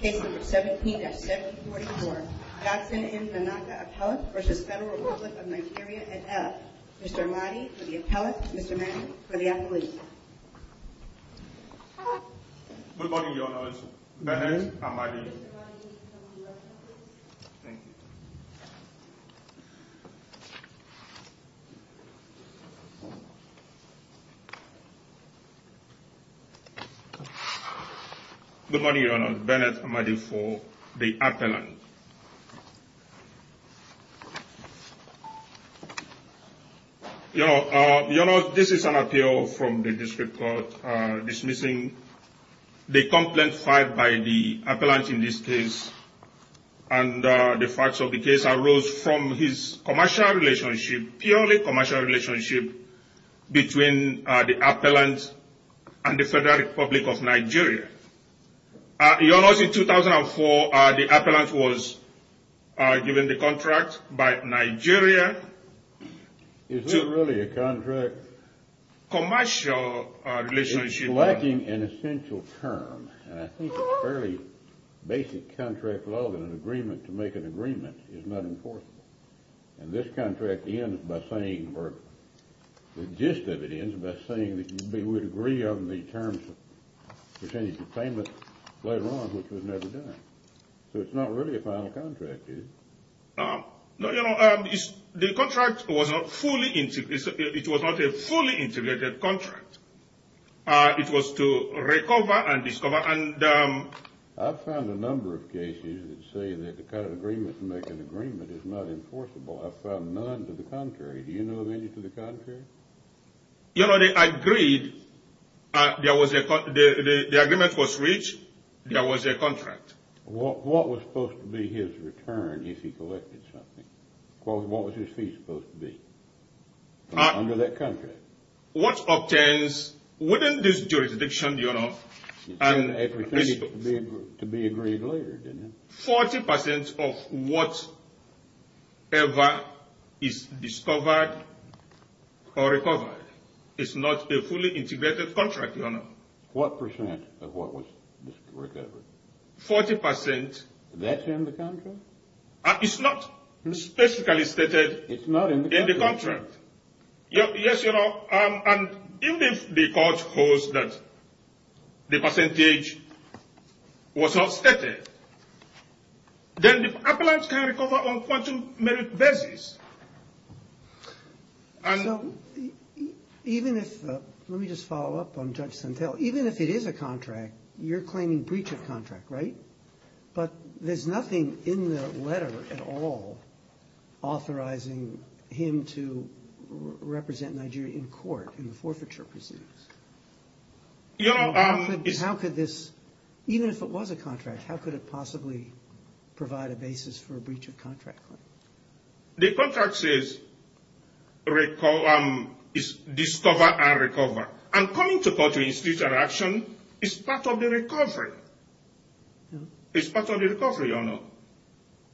Case No. 17-744, Johnson N. Nnaka appellate v. Federal Republic of Nigeria at F. Mr. Amadi for the appellate, Mr. Mahan for the appellate. Good morning, Your Honor. My name is Amadi. Mr. Amadi, would you come to the left, please? Thank you. Good morning, Your Honor. Bennett Amadi for the appellant. Your Honor, this is an appeal from the district court dismissing the complaint filed by the appellant in this case. And the facts of the case arose from his commercial relationship, purely commercial relationship, between the appellant and the Federal Republic of Nigeria. Your Honor, in 2004, the appellant was given the contract by Nigeria. Is it really a contract? Commercial relationship. It's lacking an essential term, and I think it's fairly basic contract law that an agreement to make an agreement is not enforceable. And this contract ends by saying, or the gist of it ends by saying that we would agree on the terms of percentage of payment later on, which was never done. So it's not really a final contract, is it? No, Your Honor, the contract was not fully, it was not a fully integrated contract. It was to recover and discover and... I've found a number of cases that say that the kind of agreement to make an agreement is not enforceable. I've found none to the contrary. Do you know of any to the contrary? Your Honor, they agreed, the agreement was reached, there was a contract. What was supposed to be his return if he collected something? What was his fee supposed to be under that contract? What obtains, within this jurisdiction, Your Honor... It seemed to be agreed later, didn't it? Forty percent of whatever is discovered or recovered is not a fully integrated contract, Your Honor. What percent of what was recovered? Forty percent. That's in the contract? It's not specifically stated in the contract. Yes, Your Honor, and even if the court holds that the percentage was not stated, then the appellant can recover on a quantum merit basis. So even if... Let me just follow up on Judge Santel. Even if it is a contract, you're claiming breach of contract, right? But there's nothing in the letter at all authorizing him to represent Nigeria in court in the forfeiture proceedings. How could this... Even if it was a contract, how could it possibly provide a basis for a breach of contract claim? The contract says discover and recover. And coming to court to institute an action is part of the recovery. It's part of the recovery, Your Honor.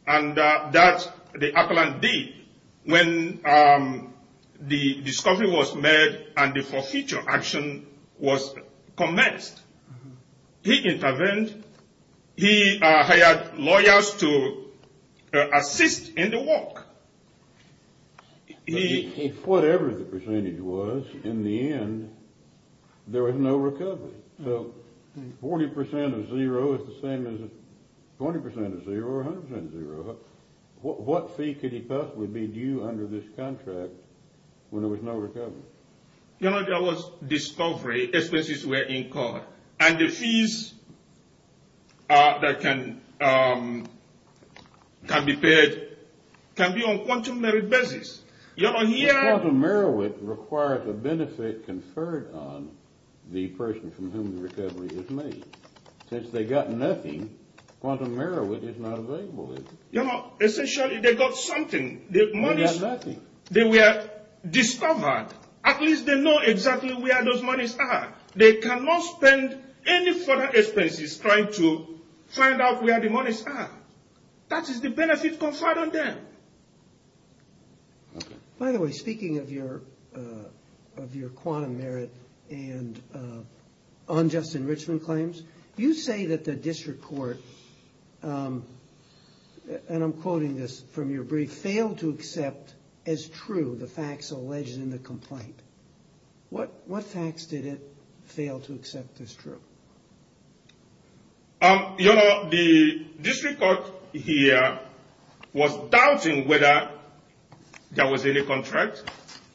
And that's the appellant did. When the discovery was made and the forfeiture action was commenced, he intervened. He hired lawyers to assist in the work. Whatever the percentage was, in the end, there was no recovery. So 40% of zero is the same as 20% of zero or 100% of zero. What fee could he possibly be due under this contract when there was no recovery? Your Honor, there was discovery, expenses were incurred. And the fees that can be paid can be on a quantum merit basis. Quantum merit requires a benefit conferred on the person from whom the recovery is made. Since they got nothing, quantum merit is not available. You know, essentially they got something. They got nothing. They were discovered. At least they know exactly where those monies are. They cannot spend any further expenses trying to find out where the monies are. That is the benefit conferred on them. By the way, speaking of your quantum merit and unjust enrichment claims, you say that the district court, and I'm quoting this from your brief, failed to accept as true the facts alleged in the complaint. What facts did it fail to accept as true? Your Honor, the district court here was doubting whether there was any contract,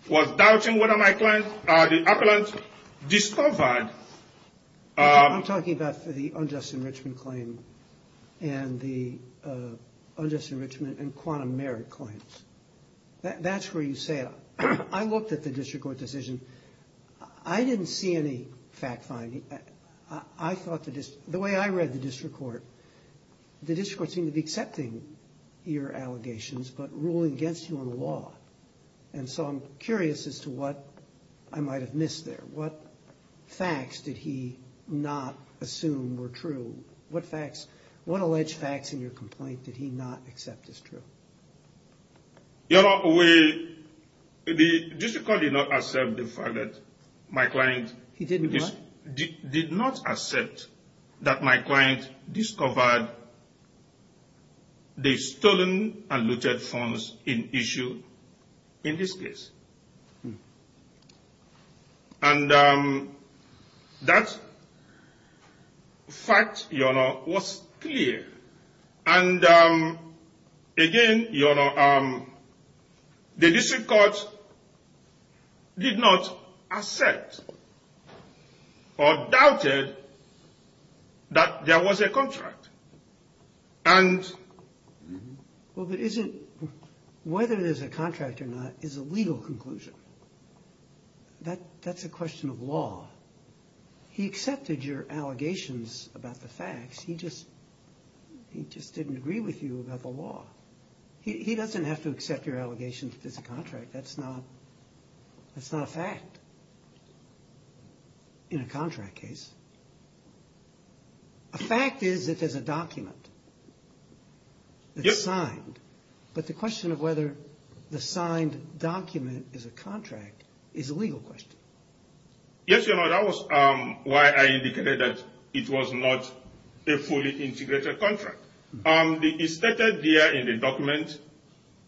was doubting whether my client, the appellant, discovered. I'm talking about the unjust enrichment claim and the unjust enrichment and quantum merit claims. That's where you say it. I looked at the district court decision. I didn't see any fact-finding. The way I read the district court, the district court seemed to be accepting your allegations but ruling against you on the law, and so I'm curious as to what I might have missed there. What facts did he not assume were true? What alleged facts in your complaint did he not accept as true? Your Honor, the district court did not accept the fact that my client... He did not? ...did not accept that my client discovered the stolen and looted funds in issue in this case. And that fact, your Honor, was clear. And again, your Honor, the district court did not accept or doubted that there was a contract. And... But whether there's a contract or not is a legal conclusion. That's a question of law. He accepted your allegations about the facts. He just didn't agree with you about the law. He doesn't have to accept your allegations that there's a contract. That's not a fact in a contract case. A fact is that there's a document that's signed. But the question of whether the signed document is a contract is a legal question. Yes, your Honor, that was why I indicated that it was not a fully integrated contract. It's stated there in the document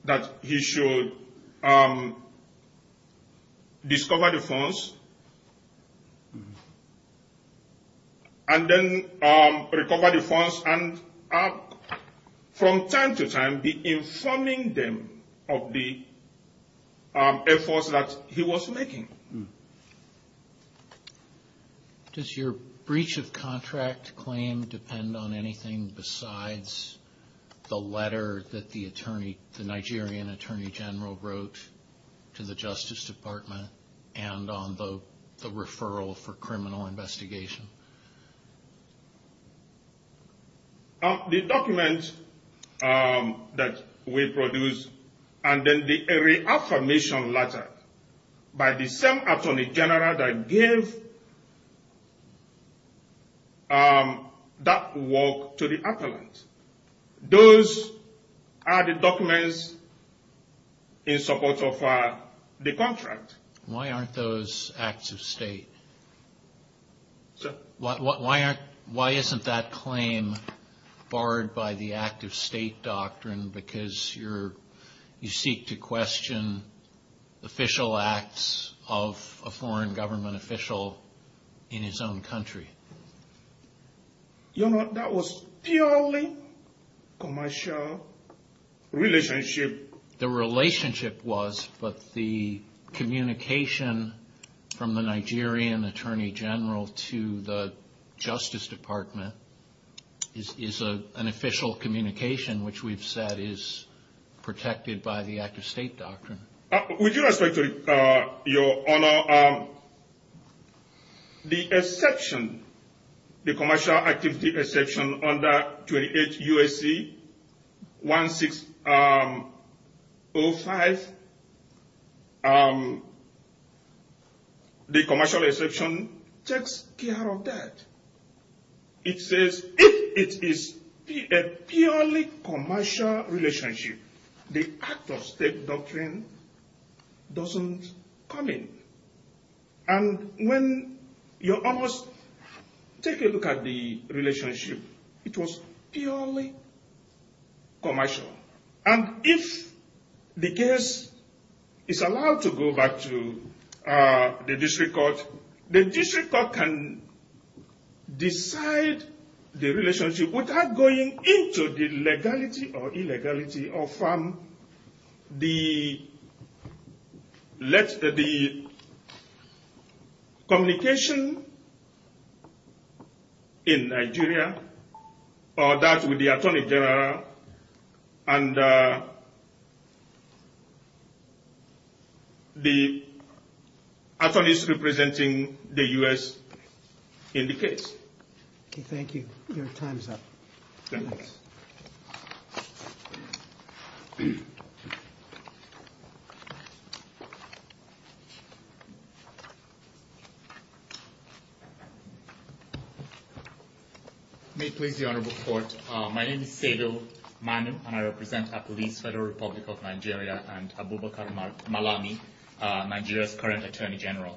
that he should discover the funds and then recover the funds and from time to time be informing them of the efforts that he was making. Does your breach of contract claim depend on anything besides the letter that the Nigerian Attorney General wrote to the Justice Department and on the referral for criminal investigation? The document that we produced and then the reaffirmation letter by the same attorney general that gave that work to the appellant. Those are the documents in support of the contract. Why aren't those acts of state? Sir? Why isn't that claim barred by the act of state doctrine because you seek to question official acts of a foreign government official in his own country? Your Honor, that was purely commercial relationship. The relationship was, but the communication from the Nigerian Attorney General to the Justice Department is an official communication, which we've said is protected by the act of state doctrine. With due respect, Your Honor, the exception, the commercial activity exception under 28 U.S.C. 1605, the commercial exception takes care of that. It says if it is a purely commercial relationship, the act of state doctrine doesn't come in. And when you almost take a look at the relationship, it was purely commercial. And if the case is allowed to go back to the district court, the district court can decide the relationship without going into the legality or illegality of the communication in Nigeria or that with the Attorney General and the attorneys representing the U.S. in the case. Thank you. Your time is up. Thank you. May it please the Honorable Court, my name is Sevil Manu and I represent Apolice Federal Republic of Nigeria and Abubakar Malami, Nigeria's current Attorney General.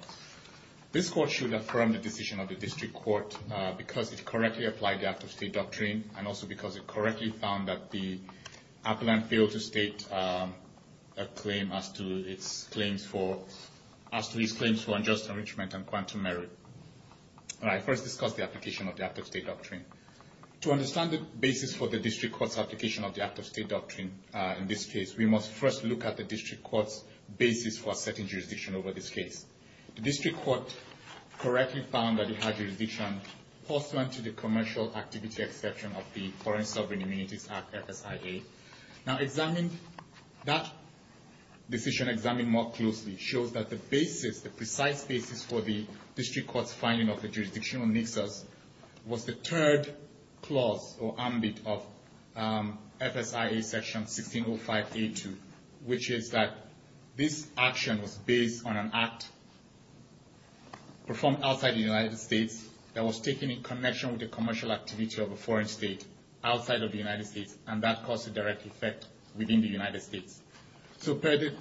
This court should affirm the decision of the district court because it correctly applied the act of state doctrine and also because it correctly found that the To understand the basis for the district court's application of the act of state doctrine in this case, we must first look at the district court's basis for setting jurisdiction over this case. The district court correctly found that it had jurisdiction pursuant to the commercial activity exception of the Foreign Sovereign Immunities Act, FSIA. Now examine, that decision examined more closely shows that the basis, the precise basis for the district court's finding of the jurisdiction of Nixos was the third clause or ambit of FSIA section 1605A2, which is that this action was based on an act performed outside the United States that was taken in connection with the commercial activity of a foreign state outside of the United States and that caused a direct effect within the United States. So per the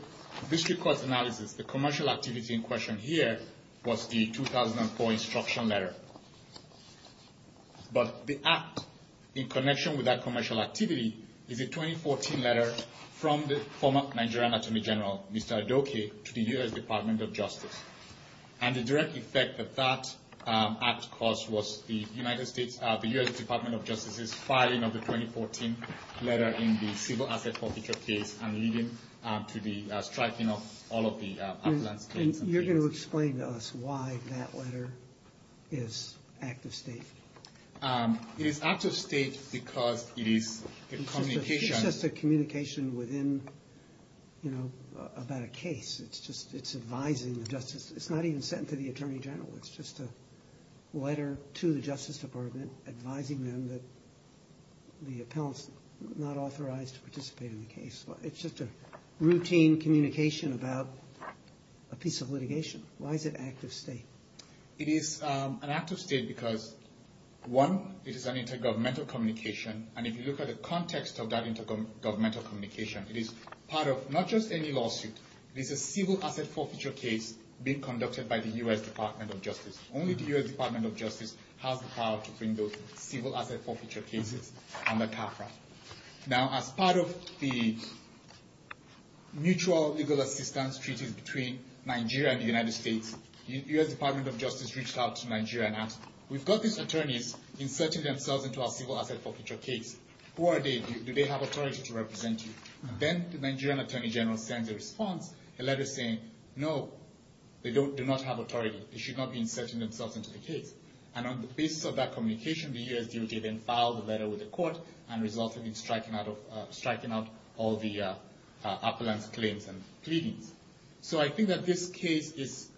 district court's analysis, the commercial activity in question here was the 2004 instruction letter. But the act in connection with that commercial activity is a 2014 letter from the former Nigerian Attorney General, Mr. Adoke, to the U.S. Department of Justice. And the direct effect that that act caused was the United States, the U.S. Department of Justice's filing of the 2014 letter in the civil asset forfeiture case and leading to the striking of all of the affluence claims. And you're going to explain to us why that letter is act of state. It is act of state because it is a communication. within, you know, about a case. It's just, it's advising the justice. It's not even sent to the attorney general. It's just a letter to the Justice Department advising them that the appellant's not authorized to participate in the case. It's just a routine communication about a piece of litigation. Why is it act of state? It is an act of state because, one, it is an intergovernmental communication. And if you look at the context of that intergovernmental communication, it is part of not just any lawsuit, it is a civil asset forfeiture case being conducted by the U.S. Department of Justice. Only the U.S. Department of Justice has the power to bring those civil asset forfeiture cases under CAFRA. Now, as part of the mutual legal assistance treaties between Nigeria and the United States, U.S. Department of Justice reached out to Nigeria and asked, we've got these attorneys inserting themselves into our civil asset forfeiture case. Who are they? Do they have authority to represent you? And then the Nigerian attorney general sends a response, a letter saying, no, they do not have authority. They should not be inserting themselves into the case. And on the basis of that communication, the U.S. DOJ then filed a letter with the court and resulted in striking out all the appellant's claims and pleadings. So I think that this case is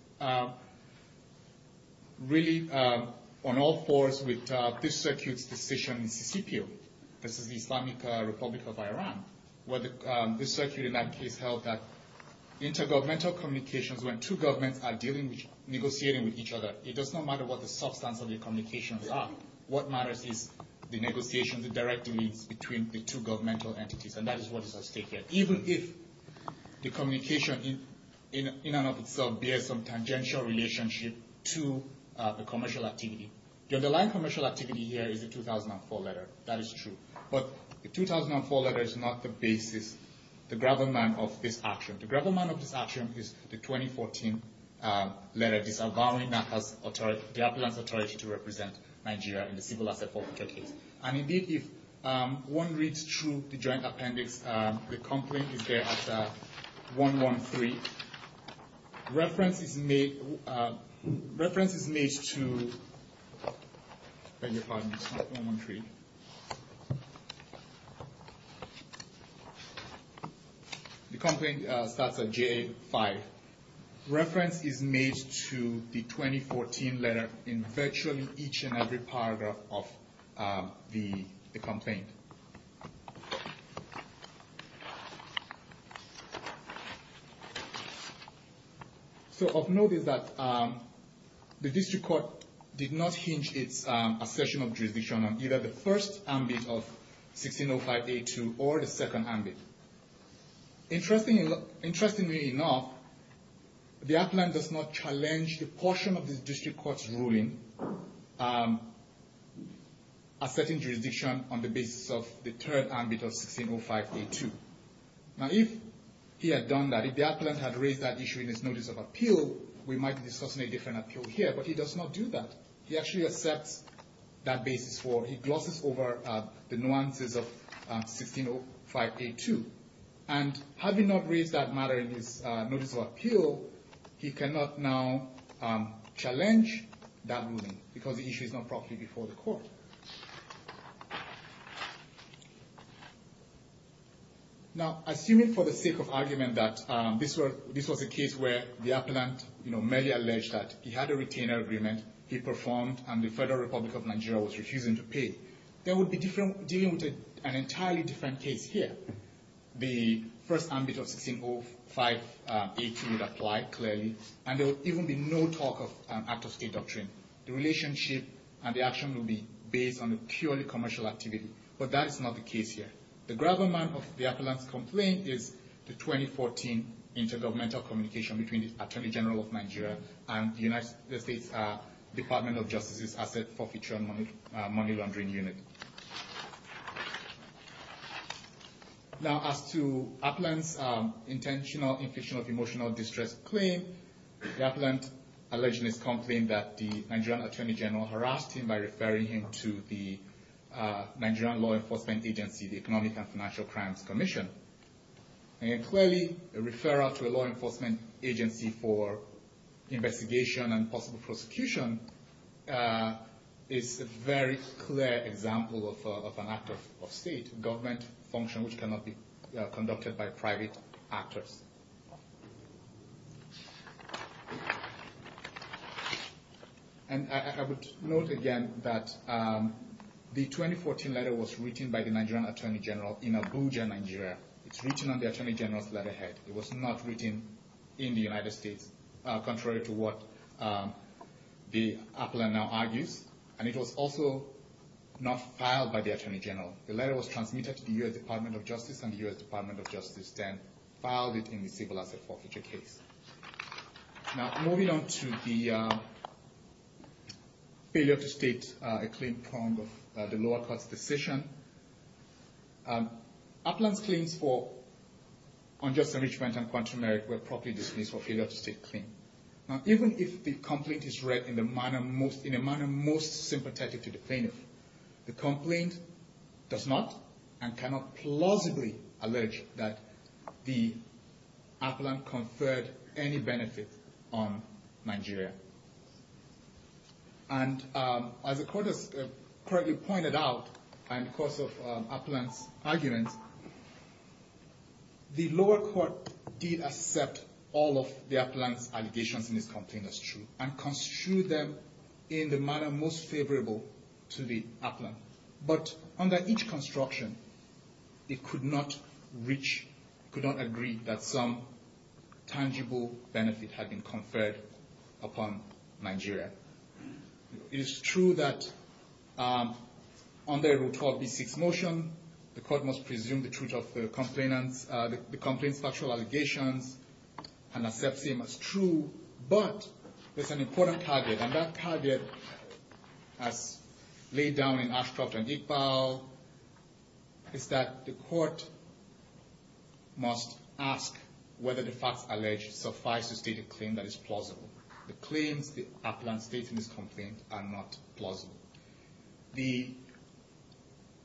really on all fours with this circuit's decision in Sisipio. This is the Islamic Republic of Iran. This circuit in that case held that intergovernmental communications, when two governments are negotiating with each other, it does not matter what the substance of the communications are. What matters is the negotiations, the direct links between the two governmental entities. And that is what is at stake here. Even if the communication in and of itself bears some tangential relationship to the commercial activity, the underlying commercial activity here is the 2004 letter. That is true. But the 2004 letter is not the basis, the gravamen of this action. The gravamen of this action is the 2014 letter disavowing the appellant's authority to represent Nigeria in the civil asset forfeiture case. And indeed, if one reads through the joint appendix, the complaint is there at 113. The complaint starts at JA5. Reference is made to the 2014 letter in virtually each and every paragraph of the complaint. So of note is that the district court did not hinge its assertion of jurisdiction on either the first ambit of 1605A2 or the second ambit. Interestingly enough, the appellant does not challenge the portion of the district court's ruling asserting jurisdiction on the basis of the third ambit of 1605A2. Now if he had done that, if the appellant had raised that issue in his notice of appeal, we might be discussing a different appeal here. But he does not do that. He actually accepts that basis for, he glosses over the nuances of 1605A2. And having not raised that matter in his notice of appeal, he cannot now challenge that ruling because the issue is not properly before the court. Now, assuming for the sake of argument that this was a case where the appellant merely alleged that he had a retainer agreement, he performed, and the Federal Republic of Nigeria was refusing to pay, there would be an entirely different case here. The first ambit of 1605A2 would apply, clearly, and there would even be no talk of an act of state doctrine. The relationship and the action would be based on a purely commercial activity. But that is not the case here. The gravamen of the appellant's complaint is the 2014 intergovernmental communication between the Attorney General of Nigeria and the United States Department of Justice's Asset Forfeiture and Money Laundering Unit. Now, as to appellant's intentional infliction of emotional distress claim, the appellant alleges in his complaint that the Nigerian Attorney General harassed him by referring him to the Nigerian law enforcement agency, the Economic and Financial Crimes Commission. And clearly, a referral to a law enforcement agency for investigation and possible prosecution is a very clear example of an act of state government function which cannot be conducted by private actors. And I would note again that the 2014 letter was written by the Nigerian Attorney General in Abuja, Nigeria. It's written on the Attorney General's letterhead. It was not written in the United States, contrary to what the appellant now argues. And it was also not filed by the Attorney General. The letter was transmitted to the U.S. Department of Justice and the U.S. Department of Justice then filed it in the Civil Asset Forfeiture case. Now, moving on to the failure to state a claim prong of the lower court's decision. Appellant's claims for unjust enrichment and quantum merit were properly dismissed for failure to state a claim. Now, even if the complaint is read in a manner most sympathetic to the plaintiff, the complaint does not and cannot plausibly allege that the appellant conferred any benefit on Nigeria. And as the court has pointed out in the course of Appellant's argument, the lower court did accept all of the appellant's allegations in this complaint as true and construed them in the manner most favorable to the appellant. But under each construction, it could not reach, could not agree that some tangible benefit had been conferred upon Nigeria. It is true that under Rule 12b6 motion, the court must presume the truth of the complainant's factual allegations and accept them as true. But there's an important target, and that target, as laid down in Ashcroft and Iqbal, is that the court must ask whether the facts alleged suffice to state a claim that is plausible. The claims the appellant states in this complaint are not plausible. The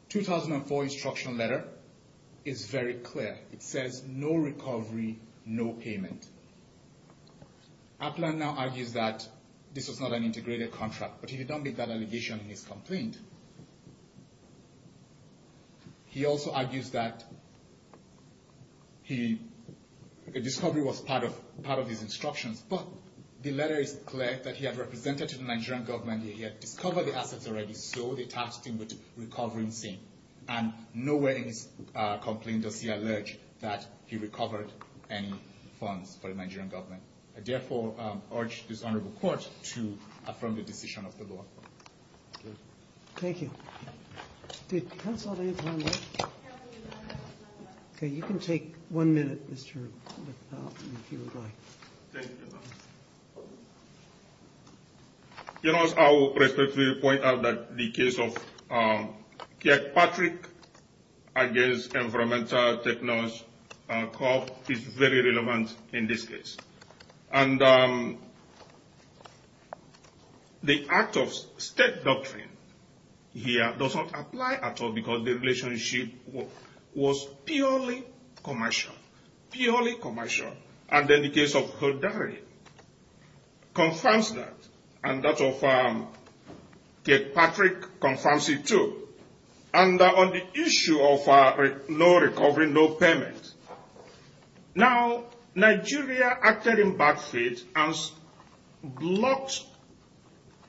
2004 instruction letter is very clear. It says, no recovery, no payment. Appellant now argues that this was not an integrated contract, but he did not make that allegation in his complaint. He also argues that the discovery was part of his instructions. But the letter is clear that he had represented to the Nigerian government, he had discovered the assets already, so they tasked him with recovering them. And nowhere in his complaint does he allege that he recovered any funds for the Nigerian government. I therefore urge this honorable court to affirm the decision of the law. Thank you. Counsel, do you have any time left? Okay, you can take one minute, Mr. Iqbal, if you would like. Thank you. You know, I will respectfully point out that the case of Kirkpatrick against environmental technologists is very relevant in this case. And the act of state doctrine here does not apply at all because the relationship was purely commercial, purely commercial. And then the case of Hodari confirms that, and that of Kirkpatrick confirms it too. And on the issue of no recovery, no payment, now Nigeria acted in back feet and blocked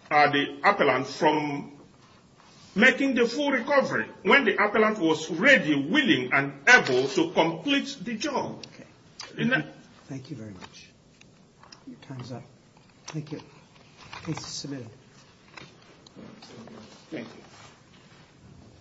the appellant from making the full recovery when the appellant was ready, willing, and able to complete the job. Thank you very much. Your time is up. Thank you. Case is submitted. Thank you.